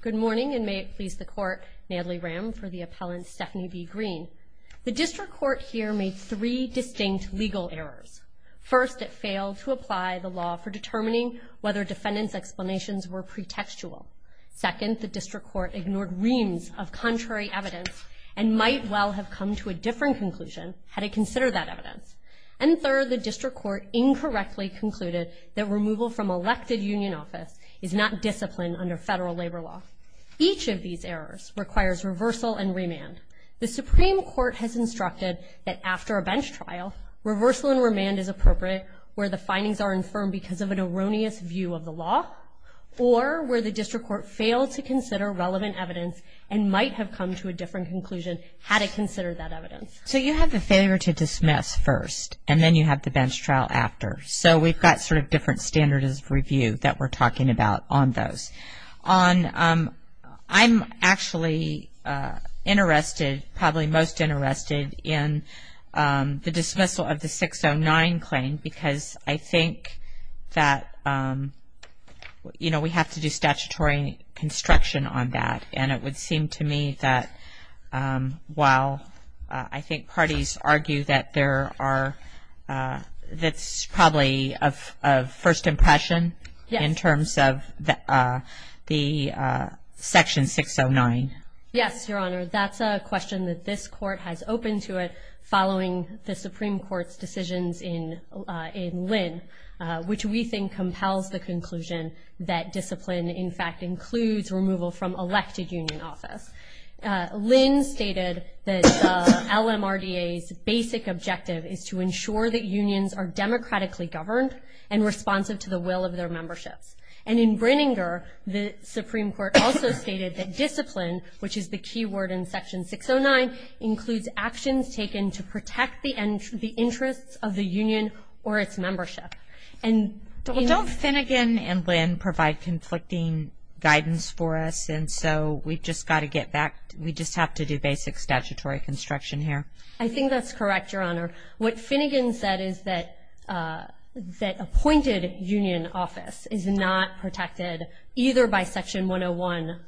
Good morning, and may it please the Court, Natalie Ram for the appellant Stephanie B. Green. The District Court here made three distinct legal errors. First, it failed to apply the law for determining whether defendants' explanations were pretextual. Second, the District Court ignored reams of contrary evidence and might well have come to a different conclusion had it considered that evidence. And third, the District Court incorrectly concluded that removal from elected union office is not discipline under federal labor law. Each of these errors requires reversal and remand. The Supreme Court has instructed that after a bench trial, reversal and remand is appropriate where the findings are infirmed because of an erroneous view of the law or where the District Court failed to consider relevant evidence and might have come to a different conclusion had it considered that evidence. So you have the failure to dismiss first, and then you have the bench trial after. So we've got sort of different standards of review that we're talking about on those. I'm actually interested, probably most interested, in the dismissal of the 609 claim because I think that we have to do statutory construction on that. And it would seem to me that while I think parties argue that there are, that's probably a first impression in terms of the Section 609. Yes, Your Honor. That's a question that this Court has opened to it following the Supreme Court's decisions in Lynn, which we think compels the conclusion that discipline, in fact, includes removal from elected union office. Lynn stated that LMRDA's basic objective is to ensure that unions are democratically governed and responsive to the will of their memberships. And in Brininger, the Supreme Court also stated that discipline, which is the key word in Section 609, includes actions taken to protect the interests of the union or its membership. Don't Finnegan and Lynn provide conflicting guidance for us? And so we've just got to get back, we just have to do basic statutory construction here. I think that's correct, Your Honor. What Finnegan said is that appointed union office is not protected either by Section 101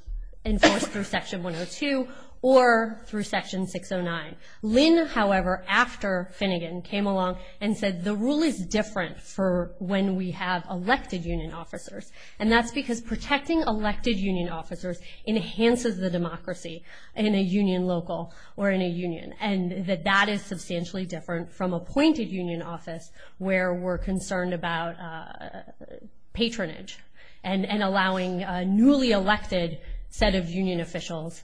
enforced through Section 102 or through Section 609. Lynn, however, after Finnegan, came along and said the rule is different for when we have elected union officers. And that's because protecting elected union officers enhances the democracy in a union local or in a union. And that that is substantially different from appointed union office where we're concerned about patronage and allowing a newly elected set of union officials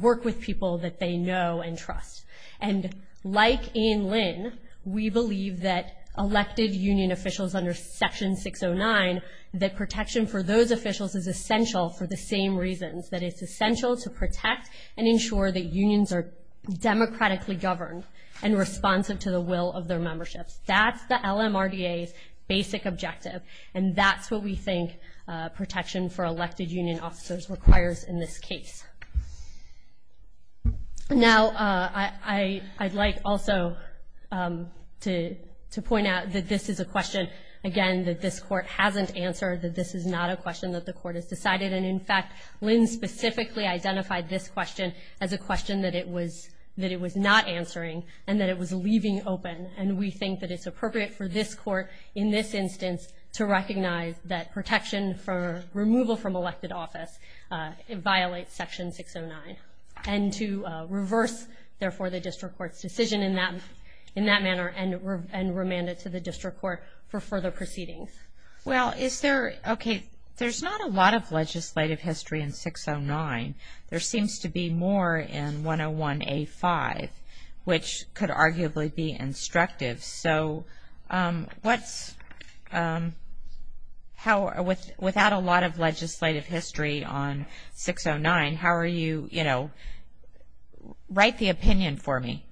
work with people that they know and trust. And like in Lynn, we believe that elected union officials under Section 609, that protection for those officials is essential for the same reasons, that it's essential to protect and ensure that unions are democratically governed and responsive to the will of their memberships. That's the LMRDA's basic objective. And that's what we think protection for elected union officers requires in this case. Now, I'd like also to point out that this is a question, again, that this Court hasn't answered, that this is not a question that the Court has decided. And, in fact, Lynn specifically identified this question as a question that it was not answering and that it was leaving open. And we think that it's appropriate for this Court, in this instance, to recognize that protection for removal from elected office violates Section 609, and to reverse, therefore, the district court's decision in that manner and remand it to the district court for further proceedings. Well, is there, okay, there's not a lot of legislative history in 609. There seems to be more in 101A5, which could arguably be instructive. So what's, how, without a lot of legislative history on 609, how are you, you know, write the opinion for me.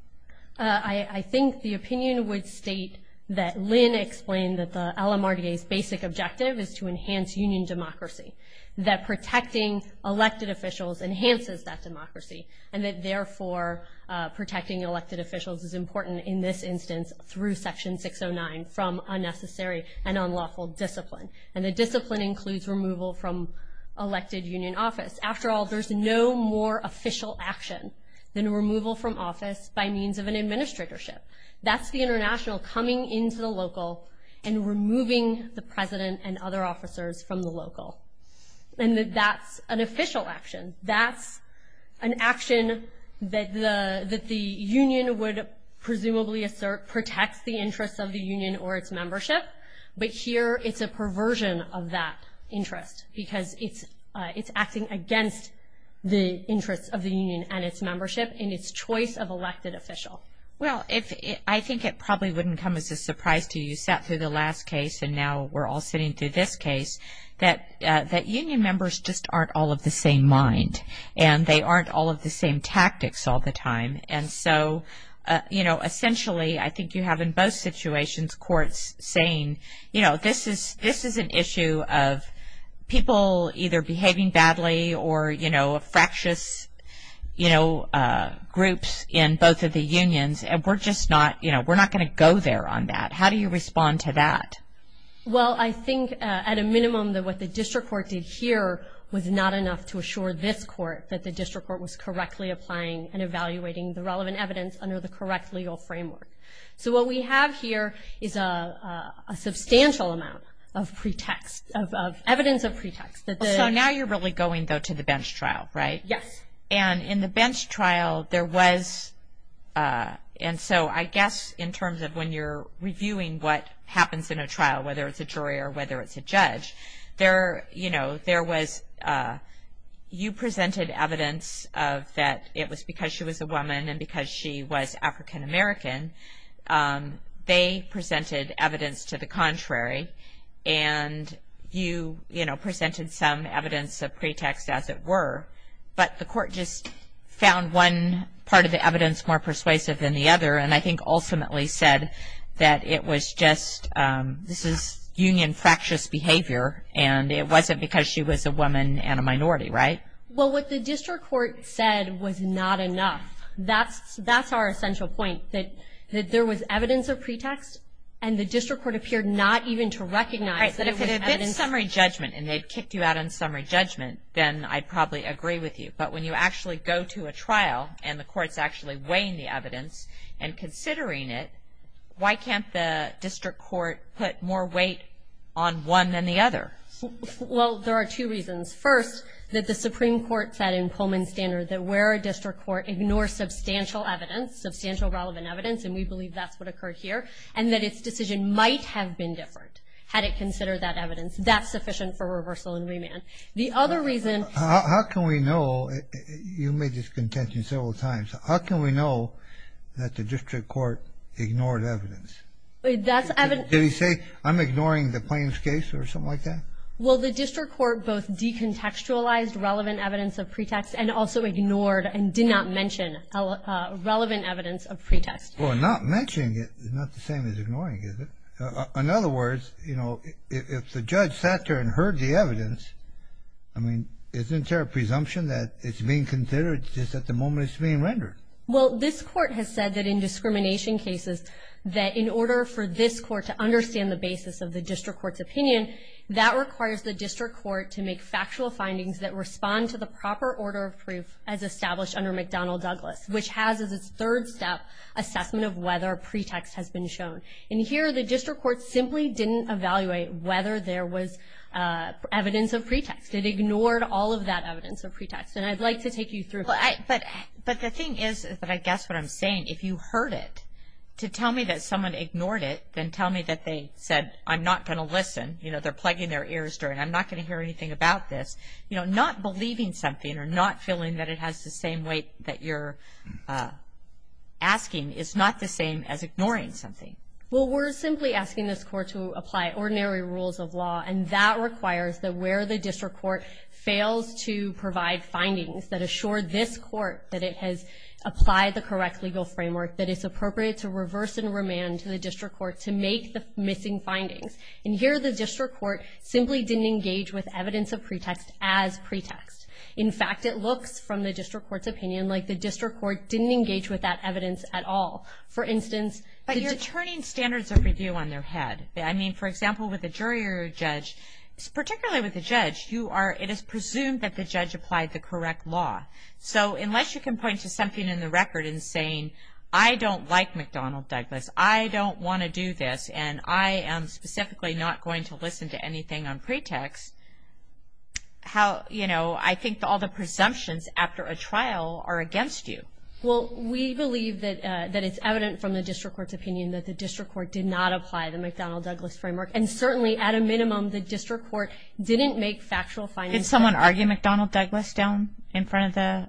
I think the opinion would state that Lynn explained that the LMRDA's basic objective is to enhance union democracy, that protecting elected officials enhances that democracy, and that, therefore, protecting elected officials is important in this instance through Section 609 from unnecessary and unlawful discipline. And the discipline includes removal from elected union office. After all, there's no more official action than removal from office by means of an administratorship. That's the international coming into the local and removing the president and other officers from the local. And that's an official action. That's an action that the union would presumably assert protects the interests of the union or its membership. But here it's a perversion of that interest because it's acting against the interests of the union and its membership in its choice of elected official. Well, I think it probably wouldn't come as a surprise to you. You sat through the last case, and now we're all sitting through this case, that union members just aren't all of the same mind, and they aren't all of the same tactics all the time. And so, you know, essentially I think you have in both situations courts saying, you know, this is an issue of people either behaving badly or, you know, fractious, you know, groups in both of the unions, and we're just not, you know, we're not going to go there on that. How do you respond to that? Well, I think at a minimum that what the district court did here was not enough to assure this court that the district court was correctly applying and evaluating the relevant evidence under the correct legal framework. So what we have here is a substantial amount of pretext, of evidence of pretext. So now you're really going, though, to the bench trial, right? Yes. And in the bench trial there was, and so I guess in terms of when you're reviewing what happens in a trial, whether it's a jury or whether it's a judge, there, you know, there was, you presented evidence of that it was because she was a woman and because she was African American. They presented evidence to the contrary, and you, you know, presented some evidence of pretext as it were, but the court just found one part of the evidence more persuasive than the other, and I think ultimately said that it was just, this is union fractious behavior, and it wasn't because she was a woman and a minority, right? Well, what the district court said was not enough. That's, that's our essential point, that there was evidence of pretext, and the district court appeared not even to recognize that it was evidence. Right, that if it had been summary judgment and they'd kicked you out on summary judgment, then I'd probably agree with you, but when you actually go to a trial and the court's actually weighing the evidence and considering it, why can't the district court put more weight on one than the other? Well, there are two reasons. First, that the Supreme Court said in Pullman's standard that where a district court ignores substantial evidence, substantial relevant evidence, and we believe that's what occurred here, and that its decision might have been different had it considered that evidence. That's sufficient for reversal and remand. How can we know, you made this contention several times, how can we know that the district court ignored evidence? Did he say, I'm ignoring the plaintiff's case or something like that? Well, the district court both decontextualized relevant evidence of pretext and also ignored and did not mention relevant evidence of pretext. Well, not mentioning it is not the same as ignoring it. In other words, you know, if the judge sat there and heard the evidence, I mean, isn't there a presumption that it's being considered just at the moment it's being rendered? Well, this court has said that in discrimination cases, that in order for this court to understand the basis of the district court's opinion, that requires the district court to make factual findings that respond to the proper order of proof as established under McDonnell Douglas, which has as its third step assessment of whether a pretext has been shown. And here, the district court simply didn't evaluate whether there was evidence of pretext. It ignored all of that evidence of pretext. And I'd like to take you through that. But the thing is that I guess what I'm saying, if you heard it to tell me that someone ignored it, then tell me that they said, I'm not going to listen. You know, they're plugging their ears. I'm not going to hear anything about this. You know, not believing something or not feeling that it has the same weight that you're asking is not the same as ignoring something. Well, we're simply asking this court to apply ordinary rules of law, and that requires that where the district court fails to provide findings that assure this court that it has applied the correct legal framework, that it's appropriate to reverse and remand to the district court to make the missing findings. And here, the district court simply didn't engage with evidence of pretext as pretext. In fact, it looks, from the district court's opinion, like the district court didn't engage with that evidence at all. For instance. But you're turning standards of review on their head. I mean, for example, with a jury or a judge, particularly with a judge, it is presumed that the judge applied the correct law. So unless you can point to something in the record and saying, I don't like McDonnell Douglas, I don't want to do this, and I am specifically not going to listen to anything on pretext, how, you know, I think all the presumptions after a trial are against you. Well, we believe that it's evident from the district court's opinion that the district court did not apply the McDonnell Douglas framework. And certainly, at a minimum, the district court didn't make factual findings. Did someone argue McDonnell Douglas down in front of the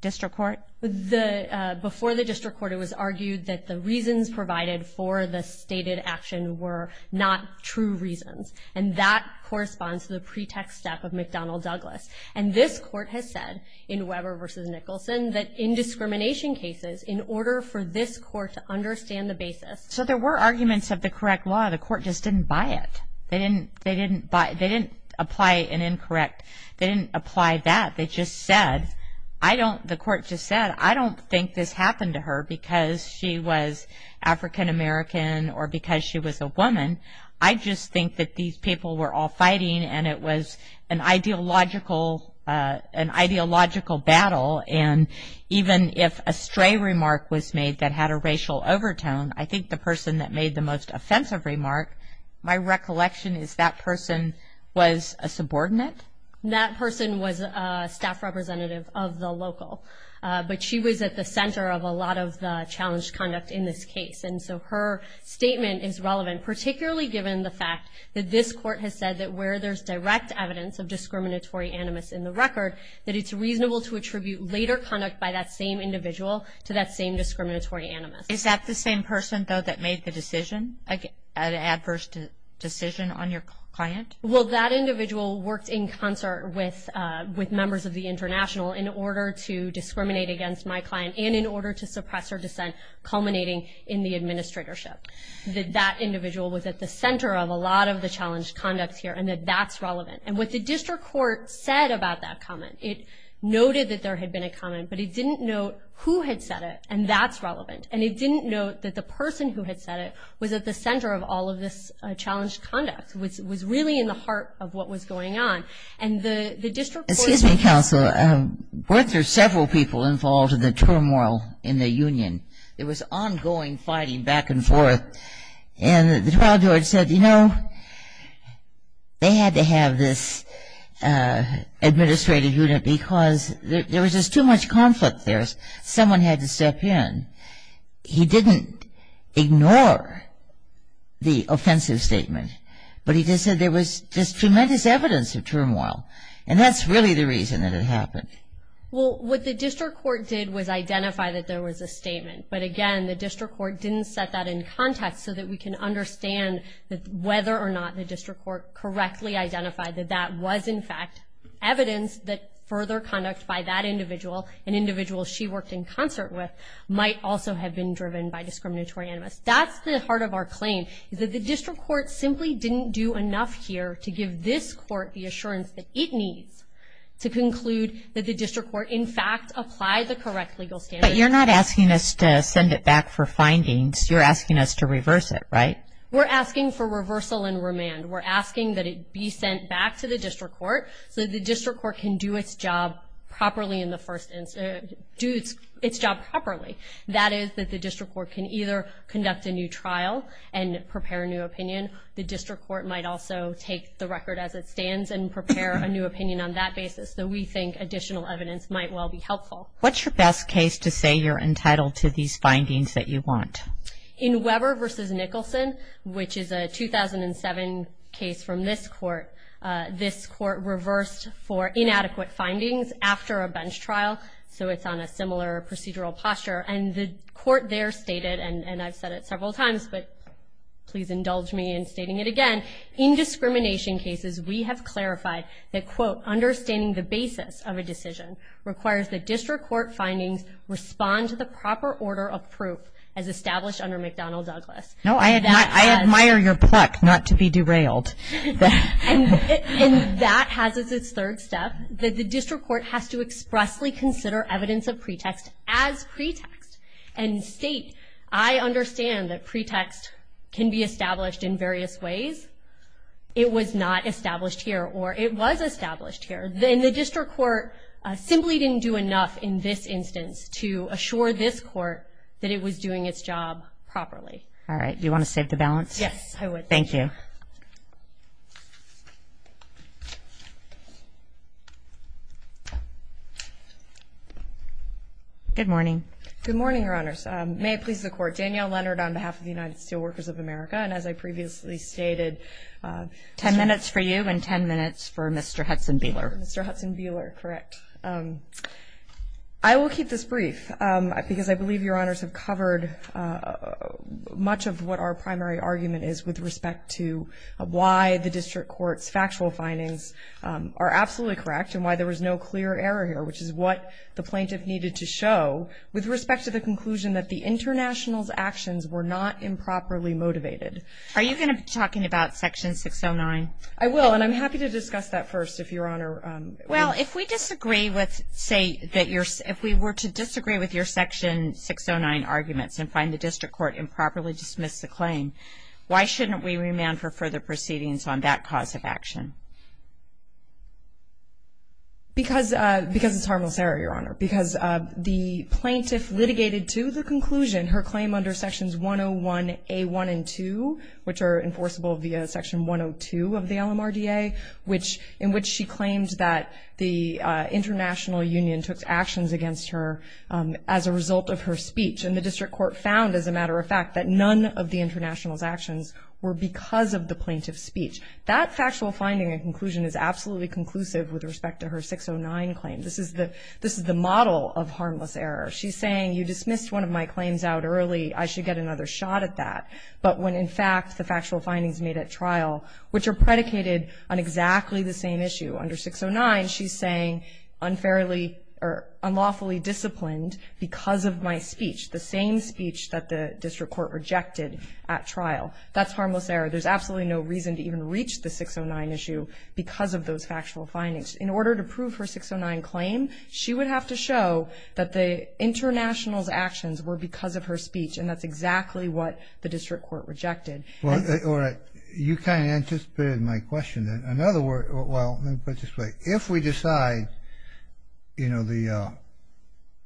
district court? Before the district court, it was argued that the reasons provided for the stated action were not true reasons. And that corresponds to the pretext step of McDonnell Douglas. And this court has said in Weber v. Nicholson that in discrimination cases, in order for this court to understand the basis. So there were arguments of the correct law. The court just didn't buy it. They didn't apply an incorrect. They didn't apply that. They just said, I don't, the court just said, I don't think this happened to her because she was African American or because she was a woman. I just think that these people were all fighting and it was an ideological battle. And even if a stray remark was made that had a racial overtone, I think the person that made the most offensive remark, my recollection is that person was a subordinate. That person was a staff representative of the local. But she was at the center of a lot of the challenged conduct in this case. And so her statement is relevant, particularly given the fact that this court has said that where there's direct evidence of discriminatory animus in the record, that it's reasonable to attribute later conduct by that same individual to that same discriminatory animus. Is that the same person, though, that made the decision, the adverse decision on your client? Well, that individual worked in concert with members of the international in order to discriminate against my client and in order to suppress her dissent culminating in the administratorship. That that individual was at the center of a lot of the challenged conduct here and that that's relevant. And what the district court said about that comment, it noted that there had been a comment, but it didn't note who had said it, and that's relevant. And it didn't note that the person who had said it was at the center of all of this challenged conduct, which was really in the heart of what was going on. And the district court ---- Excuse me, counsel. Weren't there several people involved in the turmoil in the union? There was ongoing fighting back and forth. And the trial judge said, you know, they had to have this administrative unit because there was just too much conflict there. Someone had to step in. He didn't ignore the offensive statement, but he just said there was just tremendous evidence of turmoil. And that's really the reason that it happened. Well, what the district court did was identify that there was a statement. But, again, the district court didn't set that in context so that we can understand whether or not the district court correctly identified that that was, in fact, evidence that further conduct by that individual, an individual she worked in concert with, might also have been driven by discriminatory animus. That's the heart of our claim is that the district court simply didn't do enough here to give this court the assurance that it needs to conclude that the district court, in fact, applied the correct legal standards. But you're not asking us to send it back for findings. You're asking us to reverse it, right? We're asking for reversal and remand. We're asking that it be sent back to the district court so that the district court can do its job properly in the first instance ---- do its job properly. That is that the district court can either conduct a new trial and prepare a new opinion. The district court might also take the record as it stands and prepare a new opinion on that basis. So we think additional evidence might well be helpful. What's your best case to say you're entitled to these findings that you want? In Weber v. Nicholson, which is a 2007 case from this court, this court reversed for inadequate findings after a bench trial, so it's on a similar procedural posture. And the court there stated, and I've said it several times, but please indulge me in stating it again, in discrimination cases we have clarified that, quote, understanding the basis of a decision requires the district court findings respond to the proper order of proof as established under McDonnell-Douglas. No, I admire your pluck not to be derailed. And that has as its third step that the district court has to expressly consider evidence of pretext as pretext and state, I understand that pretext can be established in various ways. It was not established here or it was established here. And the district court simply didn't do enough in this instance to assure this court that it was doing its job properly. All right, do you want to save the balance? Yes, I would. Thank you. Good morning. Good morning, Your Honors. May it please the Court. Danielle Leonard on behalf of the United Steelworkers of America. And as I previously stated, 10 minutes for you and 10 minutes for Mr. Hudson-Buehler. Mr. Hudson-Buehler, correct. I will keep this brief because I believe Your Honors have covered much of what our primary argument is with respect to why the district court has not been able to do enough and why the district court's factual findings are absolutely correct and why there was no clear error here, which is what the plaintiff needed to show with respect to the conclusion that the international's actions were not improperly motivated. Are you going to be talking about Section 609? I will, and I'm happy to discuss that first if Your Honor. Well, if we disagree with, say, if we were to disagree with your Section 609 arguments and find the district court improperly dismissed the claim, why shouldn't we remand for further proceedings on that cause of action? Because it's harmless error, Your Honor. Because the plaintiff litigated to the conclusion her claim under Sections 101A1 and 2, which are enforceable via Section 102 of the LMRDA, in which she claimed that the international union took actions against her as a result of her speech. And the district court found, as a matter of fact, that none of the international's actions were because of the plaintiff's speech. That factual finding and conclusion is absolutely conclusive with respect to her 609 claim. This is the model of harmless error. She's saying you dismissed one of my claims out early, I should get another shot at that. But when, in fact, the factual findings made at trial, which are predicated on exactly the same issue under 609, she's saying unlawfully disciplined because of my speech, the same speech that the district court rejected at trial. That's harmless error. There's absolutely no reason to even reach the 609 issue because of those factual findings. In order to prove her 609 claim, she would have to show that the international's actions were because of her speech, and that's exactly what the district court rejected. All right. You kind of anticipated my question then. In other words, well, let me put it this way. If we decide, you know,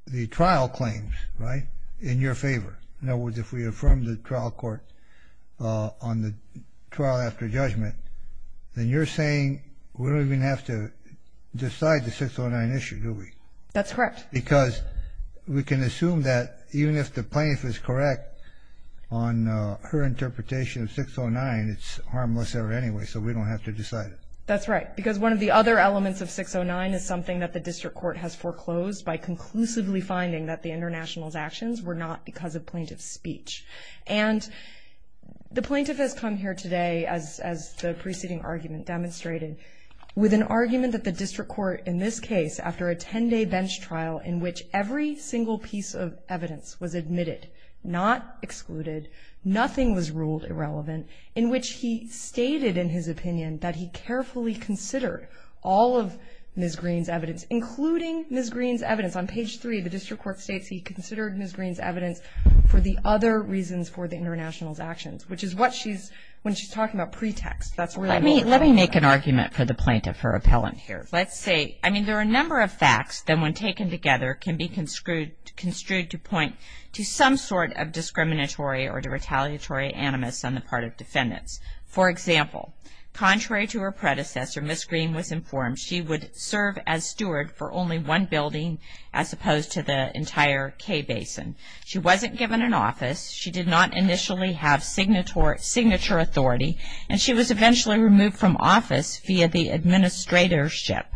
the trial claims, right, in your favor, in other words, if we affirm the trial court on the trial after judgment, then you're saying we don't even have to decide the 609 issue, do we? That's correct. Because we can assume that even if the plaintiff is correct on her interpretation of 609, it's harmless error anyway, so we don't have to decide it. That's right. Because one of the other elements of 609 is something that the district court has foreclosed by conclusively finding that the international's actions were not because of plaintiff's speech. And the plaintiff has come here today, as the preceding argument demonstrated, with an argument that the district court, in this case, after a 10-day bench trial, in which every single piece of evidence was admitted, not excluded, nothing was ruled irrelevant, in which he stated in his opinion that he carefully considered all of Ms. Greene's evidence, including Ms. Greene's evidence. On page 3, the district court states he considered Ms. Greene's evidence for the other reasons for the international's actions, which is what she's – when she's talking about pretext. Let me make an argument for the plaintiff, her appellant here. Let's see. I mean, there are a number of facts that, when taken together, can be construed to point to some sort of discriminatory or retaliatory animus on the part of defendants. For example, contrary to her predecessor, Ms. Greene was informed she would serve as steward for only one building as opposed to the entire K Basin. She wasn't given an office. She did not initially have signature authority. And she was eventually removed from office via the administratorship.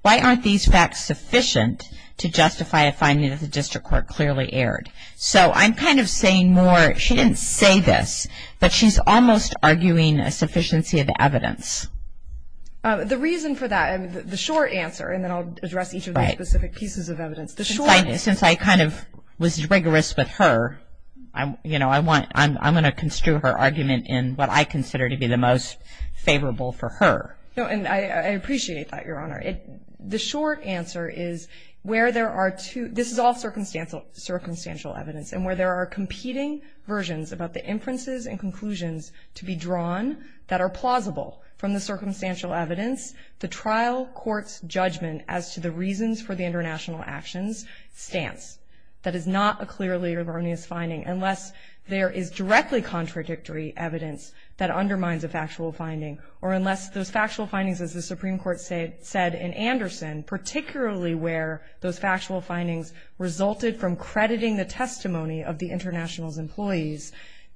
Why aren't these facts sufficient to justify a finding that the district court clearly aired? So I'm kind of saying more – she didn't say this, but she's almost arguing a sufficiency of evidence. The reason for that, the short answer, and then I'll address each of those specific pieces of evidence. Since I kind of was rigorous with her, you know, I'm going to construe her argument in what I consider to be the most favorable for her. No, and I appreciate that, Your Honor. The short answer is where there are two – this is all circumstantial evidence, and where there are competing versions about the inferences and conclusions to be drawn that are plausible from the circumstantial evidence, the trial court's judgment as to the reasons for the international actions stance. That is not a clearly erroneous finding, unless there is directly contradictory evidence that undermines a factual finding, or unless those factual findings, as the Supreme Court said in Anderson, particularly where those factual findings resulted from crediting the testimony of the international's employees,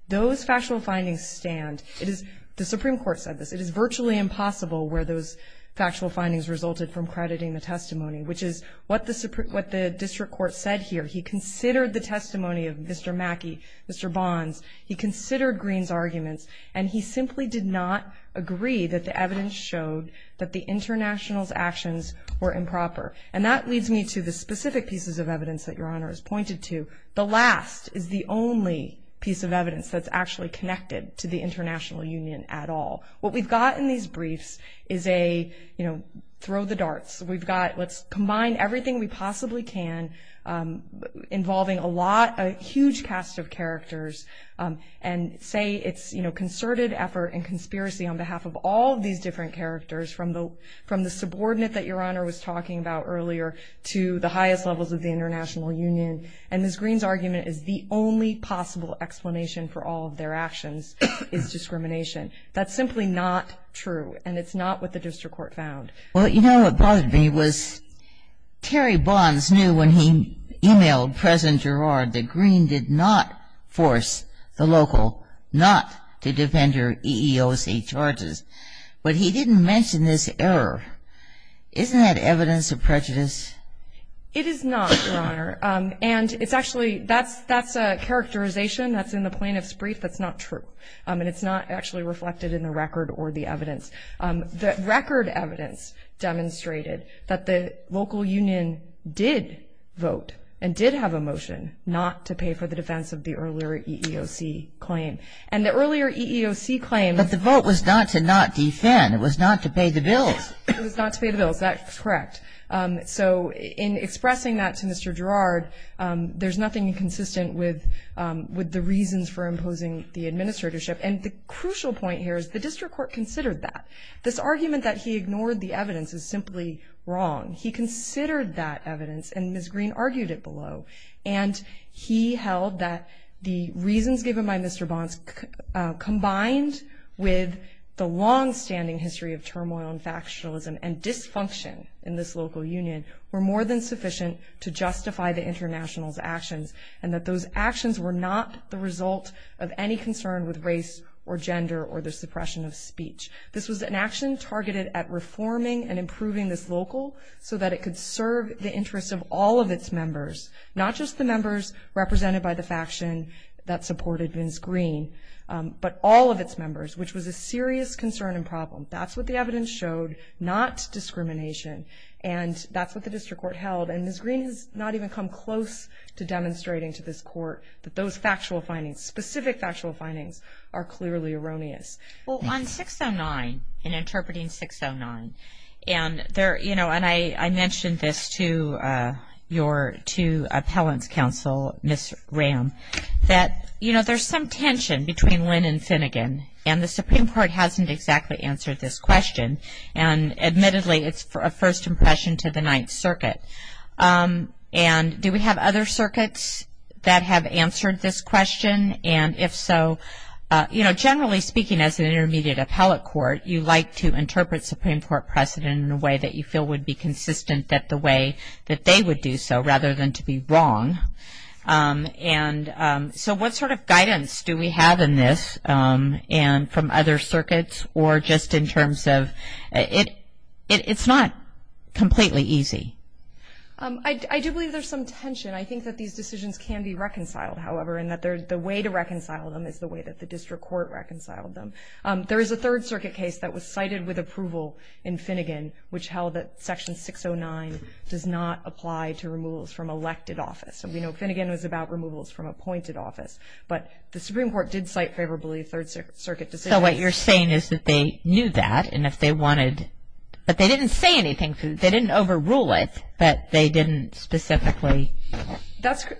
those factual findings stand. It is – the Supreme Court said this. It is virtually impossible where those factual findings resulted from crediting the testimony, which is what the district court said here. He considered the testimony of Mr. Mackey, Mr. Bonds. He considered Green's arguments, and he simply did not agree that the evidence showed that the international's actions were improper. And that leads me to the specific pieces of evidence that Your Honor has pointed to. The last is the only piece of evidence that's actually connected to the international union at all. What we've got in these briefs is a, you know, throw the darts. We've got – let's combine everything we possibly can, involving a lot – a huge cast of characters, and say it's, you know, concerted effort and conspiracy on behalf of all these different characters, from the subordinate that Your Honor was talking about earlier to the highest levels of the international union. And Ms. Green's argument is the only possible explanation for all of their actions is discrimination. That's simply not true, and it's not what the district court found. Well, you know what bothered me was Terry Bonds knew when he emailed President Girard that Green did not force the local not to defend her EEOC charges, but he didn't mention this error. Isn't that evidence of prejudice? It is not, Your Honor. And it's actually – that's a characterization that's in the plaintiff's brief that's not true, and it's not actually reflected in the record or the evidence. The record evidence demonstrated that the local union did vote and did have a motion not to pay for the defense of the earlier EEOC claim. And the earlier EEOC claim – But the vote was not to not defend. It was not to pay the bills. It was not to pay the bills. That's correct. So in expressing that to Mr. Girard, there's nothing inconsistent with the reasons for imposing the administratorship. And the crucial point here is the district court considered that. This argument that he ignored the evidence is simply wrong. He considered that evidence, and Ms. Green argued it below. And he held that the reasons given by Mr. Bonds combined with the longstanding history of turmoil and factionalism and dysfunction in this local union were more than sufficient to justify the international's actions and that those actions were not the result of any concern with race or gender or the suppression of speech. This was an action targeted at reforming and improving this local so that it could serve the interests of all of its members, not just the members represented by the faction that supported Ms. Green, but all of its members, which was a serious concern and problem. That's what the evidence showed, not discrimination. And that's what the district court held. And Ms. Green has not even come close to demonstrating to this court that those factual findings, specific factual findings, are clearly erroneous. Well, on 609, in interpreting 609, and I mentioned this to your two appellants counsel, Ms. Ram, that there's some tension between Lynn and Finnegan, and the Supreme Court hasn't exactly answered this question. And admittedly, it's a first impression to the Ninth Circuit. And do we have other circuits that have answered this question? And if so, you know, generally speaking as an intermediate appellate court, you like to interpret Supreme Court precedent in a way that you feel would be consistent that the way that they would do so rather than to be wrong. And so what sort of guidance do we have in this from other circuits? Or just in terms of, it's not completely easy. I do believe there's some tension. I think that these decisions can be reconciled, however, and that the way to reconcile them is the way that the district court reconciled them. There is a Third Circuit case that was cited with approval in Finnegan, which held that Section 609 does not apply to removals from elected office. And we know Finnegan was about removals from appointed office. But the Supreme Court did cite favorably Third Circuit decisions. So what you're saying is that they knew that, and if they wanted, but they didn't say anything. They didn't overrule it, but they didn't specifically.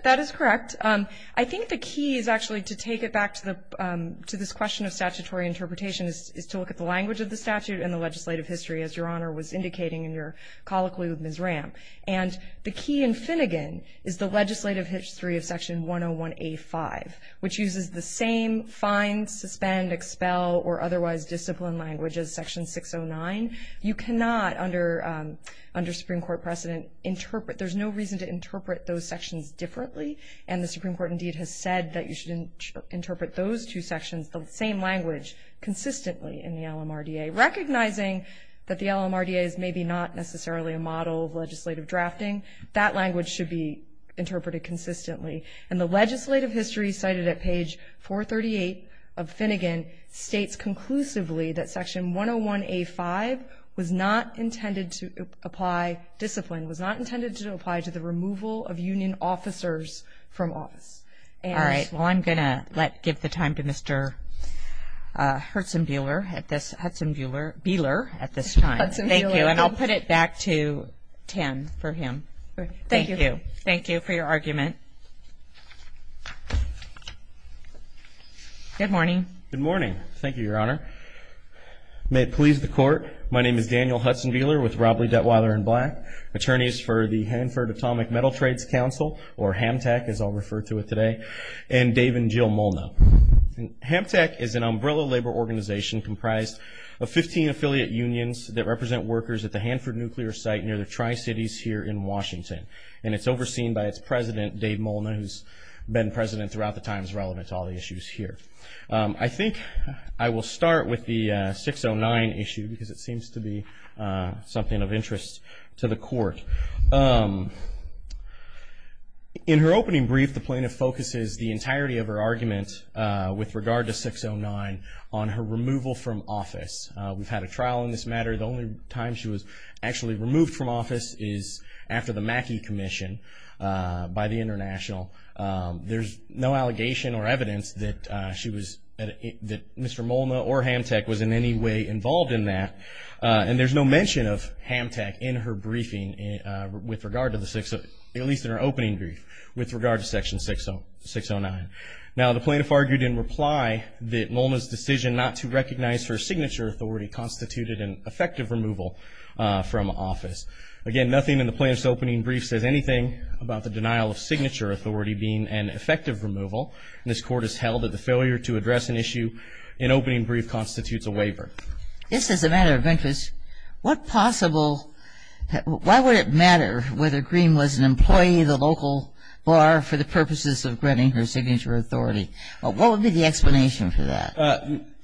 That is correct. I think the key is actually to take it back to this question of statutory interpretation is to look at the language of the statute and the legislative history, as Your Honor was indicating in your colloquy with Ms. Ram. And the key in Finnegan is the legislative history of Section 101A5, which uses the same fine, suspend, expel, or otherwise discipline language as Section 609. You cannot, under Supreme Court precedent, interpret. There's no reason to interpret those sections differently, and the Supreme Court indeed has said that you shouldn't interpret those two sections. The same language consistently in the LMRDA. Recognizing that the LMRDA is maybe not necessarily a model of legislative drafting, that language should be interpreted consistently. And the legislative history cited at page 438 of Finnegan states conclusively that Section 101A5 was not intended to apply discipline, was not intended to apply to the removal of union officers from office. All right. Well, I'm going to give the time to Mr. Hudson-Buehler at this time. Thank you. And I'll put it back to Tim for him. Thank you. Thank you for your argument. Good morning. Good morning. Thank you, Your Honor. May it please the Court, my name is Daniel Hudson-Buehler with Robley, Detweiler & Black, attorneys for the Hanford Atomic Metal Trades Council, or HAMTAC as I'll refer to it today, and Dave and Jill Molna. HAMTAC is an umbrella labor organization comprised of 15 affiliate unions that represent workers at the Hanford nuclear site near the Tri-Cities here in Washington. And it's overseen by its president, Dave Molna, who's been president throughout the times relevant to all the issues here. I think I will start with the 609 issue because it seems to be something of interest to the Court. In her opening brief, the plaintiff focuses the entirety of her argument with regard to 609 on her removal from office. We've had a trial in this matter. The only time she was actually removed from office is after the Mackey Commission by the International. There's no allegation or evidence that Mr. Molna or HAMTAC was in any way involved in that, and there's no mention of HAMTAC in her briefing with regard to the 609, at least in her opening brief, with regard to Section 609. Now, the plaintiff argued in reply that Molna's decision not to recognize her signature authority constituted an effective removal from office. Again, nothing in the plaintiff's opening brief says anything about the denial of signature authority being an effective removal. This Court has held that the failure to address an issue in opening brief constitutes a waiver. This is a matter of interest. What possible why would it matter whether Green was an employee of the local bar for the purposes of granting her signature authority? What would be the explanation for that?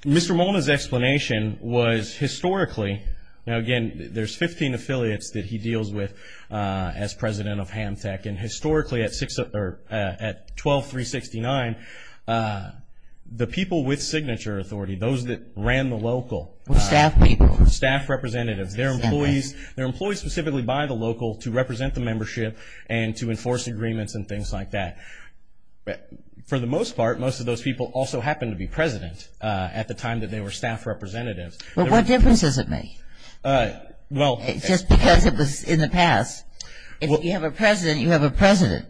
Mr. Molna's explanation was historically, now again, there's 15 affiliates that he deals with as president of HAMTAC, and historically at 12369, the people with signature authority, those that ran the local. Staff people. Staff representatives. They're employees specifically by the local to represent the membership and to enforce agreements and things like that. For the most part, most of those people also happened to be president at the time that they were staff representatives. But what difference does it make? Well. Just because it was in the past. If you have a president, you have a president.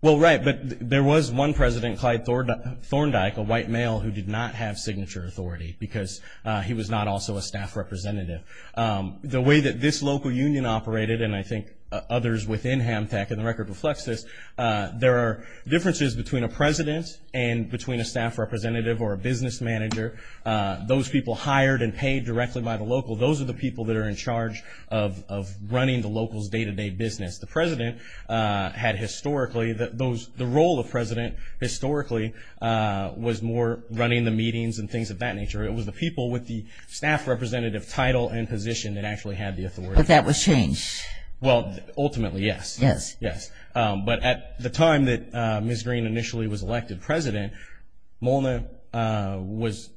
Well, right. But there was one president, Clyde Thorndike, a white male who did not have signature authority because he was not also a staff representative. The way that this local union operated, and I think others within HAMTAC, and the record reflects this, there are differences between a president and between a staff representative or a business manager. Those people hired and paid directly by the local, those are the people that are in charge of running the local's day-to-day business. The president had historically, the role of president historically was more running the meetings and things of that nature. It was the people with the staff representative title and position that actually had the authority. But that was changed. Well, ultimately, yes. Yes. Yes. But at the time that Ms. Green initially was elected president, Molna was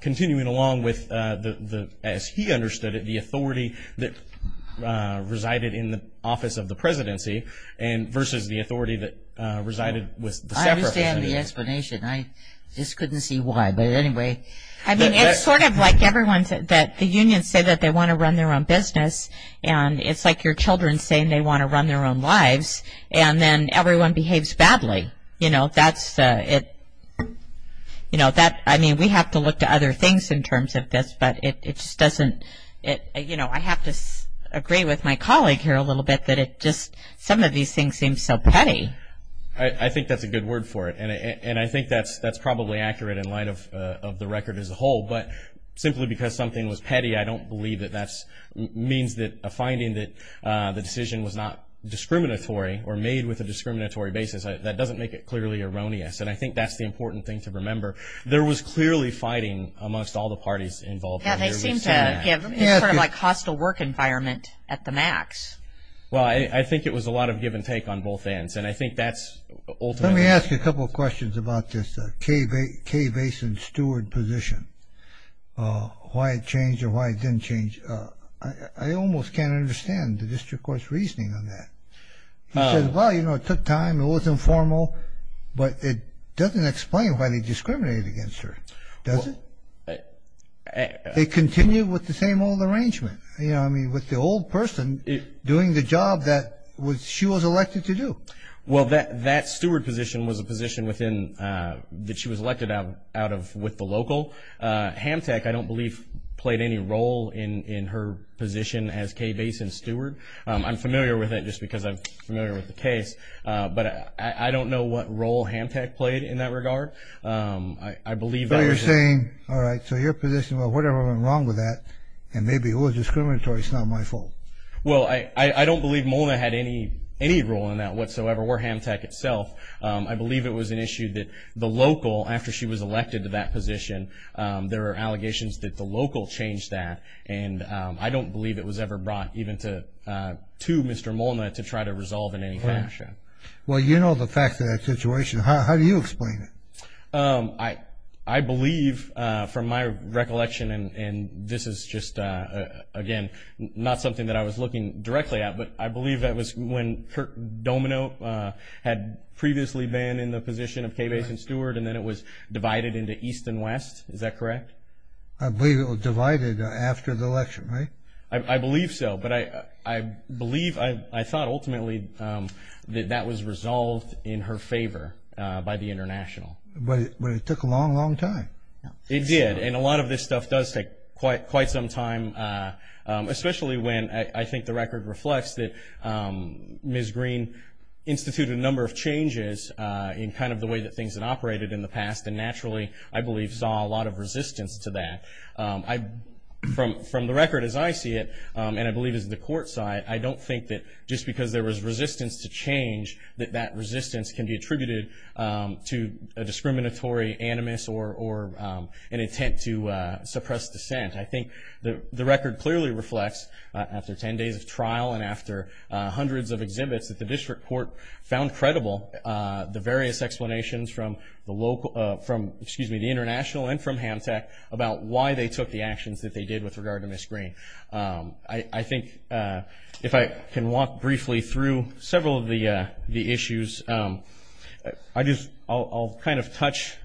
continuing along with, as he understood it, the authority that resided in the office of the presidency versus the authority that resided with the staff representative. I understand the explanation. I just couldn't see why. But anyway. I mean, it's sort of like everyone said, that the unions say that they want to run their own business, and it's like your children saying they want to run their own lives, and then everyone behaves badly. You know, that's, you know, that, I mean, we have to look to other things in terms of this, but it just doesn't, you know, I have to agree with my colleague here a little bit that it just, some of these things seem so petty. I think that's a good word for it. And I think that's probably accurate in light of the record as a whole. But simply because something was petty, I don't believe that that means that a finding that the decision was not discriminatory or made with a discriminatory basis. That doesn't make it clearly erroneous. And I think that's the important thing to remember. There was clearly fighting amongst all the parties involved. Yeah, they seemed to give sort of like hostile work environment at the max. Well, I think it was a lot of give and take on both ends, and I think that's ultimately. Let me ask you a couple of questions about this Kay Basin Steward position, why it changed or why it didn't change. I almost can't understand the district court's reasoning on that. He says, well, you know, it took time, it wasn't formal, but it doesn't explain why they discriminated against her, does it? It continued with the same old arrangement, you know, I mean with the old person doing the job that she was elected to do. Well, that steward position was a position that she was elected out of with the local. Hamtech, I don't believe, played any role in her position as Kay Basin Steward. I'm familiar with it just because I'm familiar with the case, but I don't know what role Hamtech played in that regard. I believe that was. So you're saying, all right, so your position, well, whatever went wrong with that, and maybe it was discriminatory, it's not my fault. Well, I don't believe MOLNA had any role in that whatsoever, or Hamtech itself. I believe it was an issue that the local, after she was elected to that position, there were allegations that the local changed that, and I don't believe it was ever brought even to Mr. MOLNA to try to resolve in any fashion. Well, you know the fact of that situation. How do you explain it? I believe, from my recollection, and this is just, again, not something that I was looking directly at, but I believe that was when Domino had previously been in the position of Kay Basin Steward and then it was divided into East and West, is that correct? I believe it was divided after the election, right? I believe so, but I believe, I thought ultimately that that was resolved in her favor by the International. But it took a long, long time. It did, and a lot of this stuff does take quite some time, especially when I think the record reflects that Ms. Green instituted a number of changes in kind of the way that things had operated in the past, and naturally I believe saw a lot of resistance to that. From the record as I see it, and I believe as the court side, I don't think that just because there was resistance to change, that that resistance can be attributed to a discriminatory animus or an intent to suppress dissent. I think the record clearly reflects, after 10 days of trial and after hundreds of exhibits, that the district court found credible the various explanations from the local, excuse me, the International and from Hamtech about why they took the actions that they did with regard to Ms. Green. I think if I can walk briefly through several of the issues, I'll kind of touch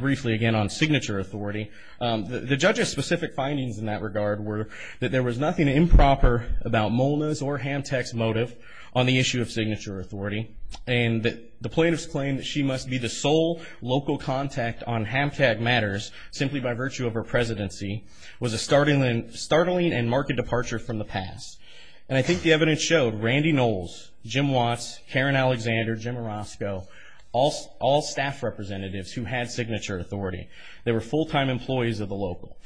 briefly again on signature authority. The judge's specific findings in that regard were that there was nothing improper about Molna's or Hamtech's motive on the issue of signature authority, and that the plaintiff's claim that she must be the sole local contact on Hamtech matters, simply by virtue of her presidency, was a startling and marked departure from the past. And I think the evidence showed Randy Knowles, Jim Watts, Karen Alexander, Jim Orozco, all staff representatives who had signature authority. They were full-time employees of the local.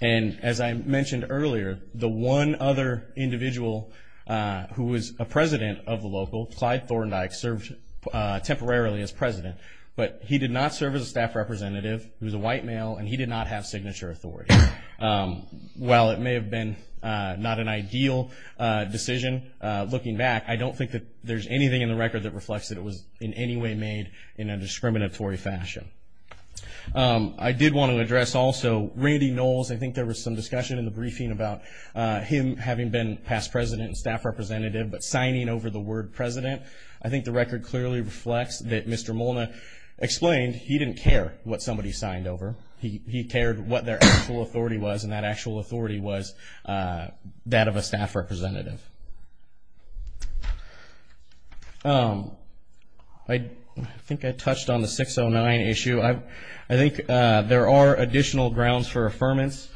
And as I mentioned earlier, the one other individual who was a president of the local, Clyde Thorndike, served temporarily as president, but he did not serve as a staff representative. He was a white male, and he did not have signature authority. While it may have been not an ideal decision, looking back, I don't think that there's anything in the record that reflects that it was in any way made in a discriminatory fashion. I did want to address also Randy Knowles. I think there was some discussion in the briefing about him having been past president and staff representative, but signing over the word president. I think the record clearly reflects that Mr. Molna explained he didn't care what somebody signed over. He cared what their actual authority was, and that actual authority was that of a staff representative. I think I touched on the 609 issue. I think there are additional grounds for affirmance.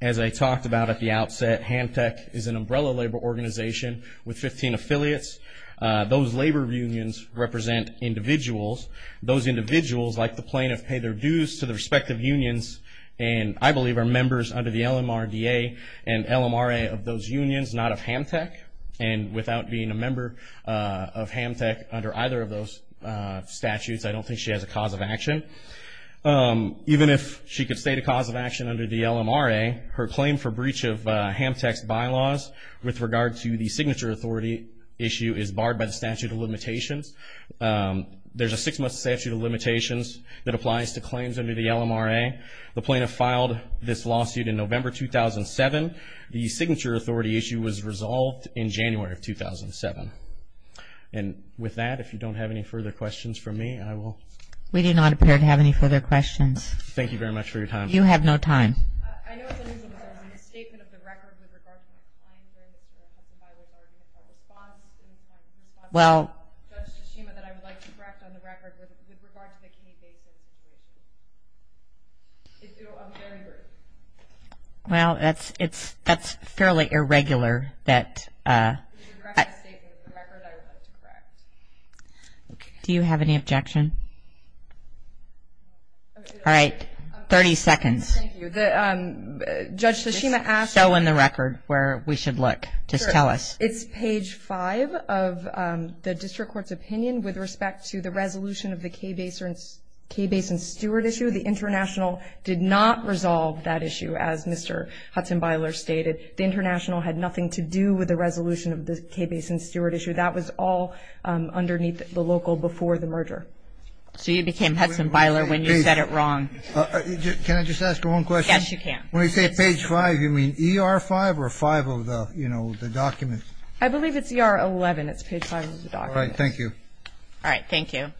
As I talked about at the outset, Hantech is an umbrella labor organization with 15 affiliates. Those labor unions represent individuals. Those individuals, like the plaintiff, pay their dues to their respective unions, and I believe are members under the LMRDA and LMRA of those unions, not of Hantech. And without being a member of Hantech under either of those statutes, I don't think she has a cause of action. Even if she could state a cause of action under the LMRA, her claim for breach of Hantech's bylaws with regard to the signature authority issue is barred by the statute of limitations. There's a six-month statute of limitations that applies to claims under the LMRA. The plaintiff filed this lawsuit in November 2007. The signature authority issue was resolved in January of 2007. And with that, if you don't have any further questions for me, I will. We do not appear to have any further questions. Thank you very much for your time. You have no time. Do you have any objection? All right, 30 seconds. Thank you. Judge Tshishima asked. Show on the record where we should look. Just tell us. It's page 5 of the district court's opinion with respect to the resolution of the Kaye Basin Steward issue. The international did not resolve that issue, as Mr. Hudson-Byler stated. The international had nothing to do with the resolution of the Kaye Basin Steward issue. That was all underneath the local before the merger. So you became Hudson-Byler when you said it wrong. Can I just ask one question? Yes, you can. When you say page 5, you mean ER 5 or 5 of the, you know, the documents? I believe it's ER 11. It's page 5 of the documents. All right, thank you. All right, thank you.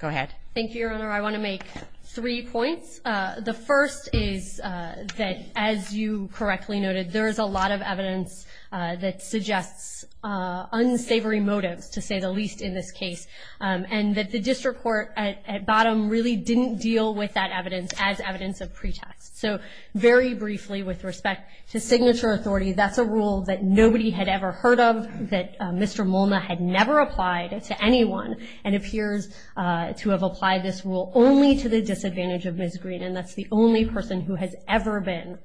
Go ahead. Thank you, Your Honor. I want to make three points. The first is that, as you correctly noted, there is a lot of evidence that suggests unsavory motives, to say the least in this case, and that the district court at bottom really didn't deal with that evidence as evidence of pretext. So very briefly, with respect to signature authority, that's a rule that nobody had ever heard of, that Mr. Molna had never applied to anyone, and appears to have applied this rule only to the disadvantage of Ms. Green, and that's the only person who has ever been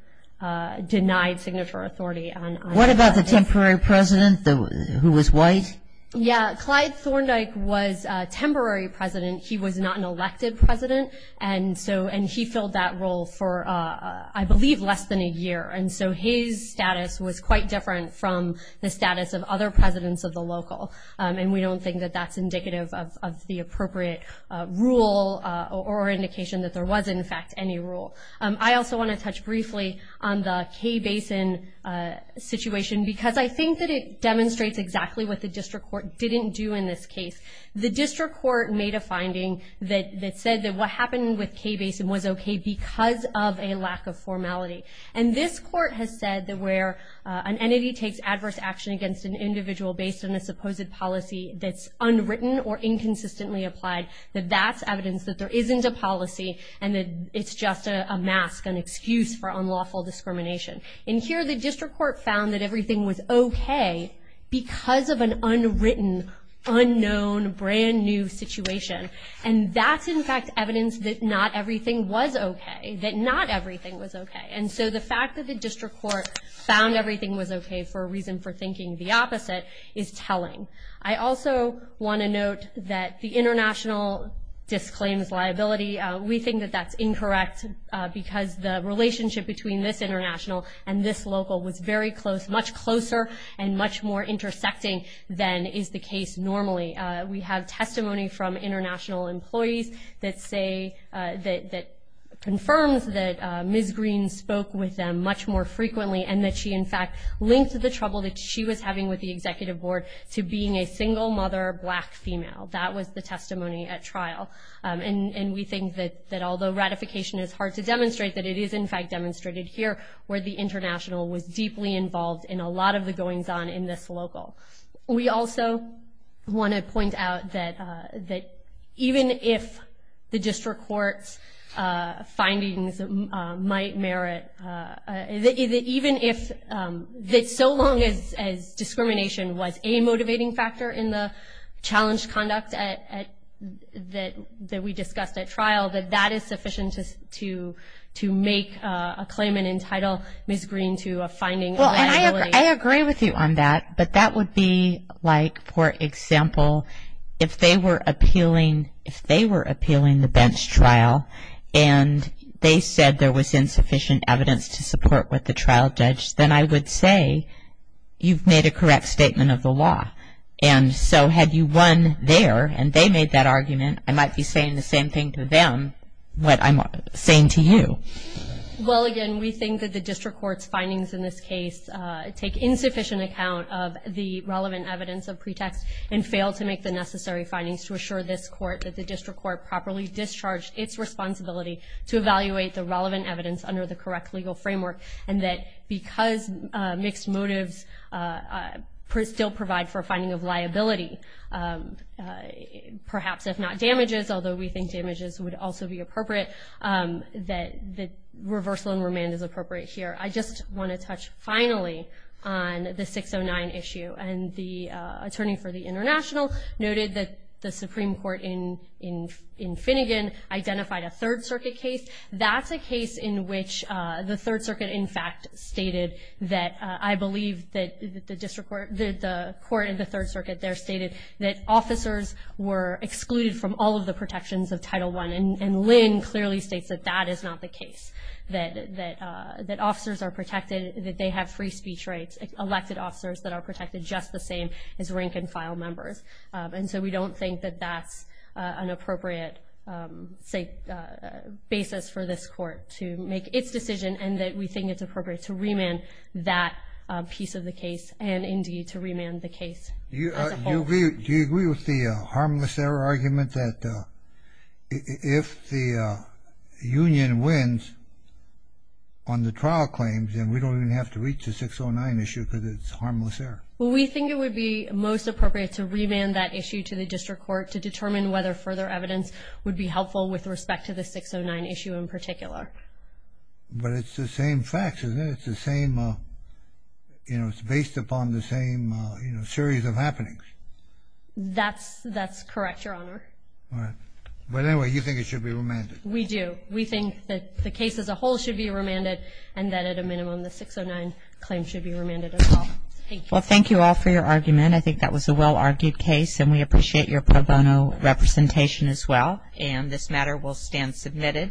denied signature authority. What about the temporary president who was white? Yeah, Clyde Thorndike was a temporary president. He was not an elected president, and so he filled that role for, I believe, less than a year. And so his status was quite different from the status of other presidents of the local, and we don't think that that's indicative of the appropriate rule or indication that there was, in fact, any rule. I also want to touch briefly on the Kay Basin situation, because I think that it demonstrates exactly what the district court didn't do in this case. The district court made a finding that said that what happened with Kay Basin was okay because of a lack of formality. And this court has said that where an entity takes adverse action against an individual based on a supposed policy that's unwritten or inconsistently applied, that that's evidence that there isn't a policy and that it's just a mask, an excuse for unlawful discrimination. And here the district court found that everything was okay because of an unwritten, unknown, brand-new situation. And that's, in fact, evidence that not everything was okay, that not everything was okay. And so the fact that the district court found everything was okay for a reason for thinking the opposite is telling. I also want to note that the international disclaims liability. We think that that's incorrect because the relationship between this international and this local was very close, much closer and much more intersecting than is the case normally. We have testimony from international employees that say, that confirms that Ms. Green spoke with them much more frequently and that she, in fact, linked the trouble that she was having with the executive board to being a single mother, black female. That was the testimony at trial. And we think that although ratification is hard to demonstrate, that it is, in fact, demonstrated here, where the international was deeply involved in a lot of the goings-on in this local. We also want to point out that even if the district court's findings might merit, that even if, that so long as discrimination was a motivating factor in the challenge conduct that we discussed at trial, that that is sufficient to make a claim and entitle Ms. Green to a finding of liability. Well, I agree with you on that, but that would be like, for example, if they were appealing, the bench trial, and they said there was insufficient evidence to support what the trial judge, then I would say you've made a correct statement of the law. And so had you won there and they made that argument, I might be saying the same thing to them, what I'm saying to you. Well, again, we think that the district court's findings in this case take insufficient account of the relevant evidence of pretext and fail to make the necessary findings to assure this court that the district court properly discharged its responsibility to evaluate the relevant evidence under the correct legal framework, and that because mixed motives still provide for a finding of liability, perhaps if not damages, although we think damages would also be appropriate, that the reversal in remand is appropriate here. I just want to touch finally on the 609 issue. And the attorney for the International noted that the Supreme Court in Finnegan identified a Third Circuit case. That's a case in which the Third Circuit in fact stated that I believe that the court in the Third Circuit there stated that officers were excluded from all of the protections of Title I, and Lynn clearly states that that is not the case, that officers are protected, that they have free speech rights, elected officers that are protected just the same as rank-and-file members. And so we don't think that that's an appropriate basis for this court to make its decision and that we think it's appropriate to remand that piece of the case and indeed to remand the case as a whole. Do you agree with the harmless error argument that if the union wins on the trial claims, then we don't even have to reach the 609 issue because it's harmless error? Well, we think it would be most appropriate to remand that issue to the district court to determine whether further evidence would be helpful with respect to the 609 issue in particular. But it's the same facts, isn't it? It's the same, you know, it's based upon the same, you know, series of happenings. That's correct, Your Honor. But anyway, you think it should be remanded. We do. We think that the case as a whole should be remanded and that at a minimum the 609 claim should be remanded as well. Well, thank you all for your argument. I think that was a well-argued case and we appreciate your pro bono representation as well. And this matter will stand submitted.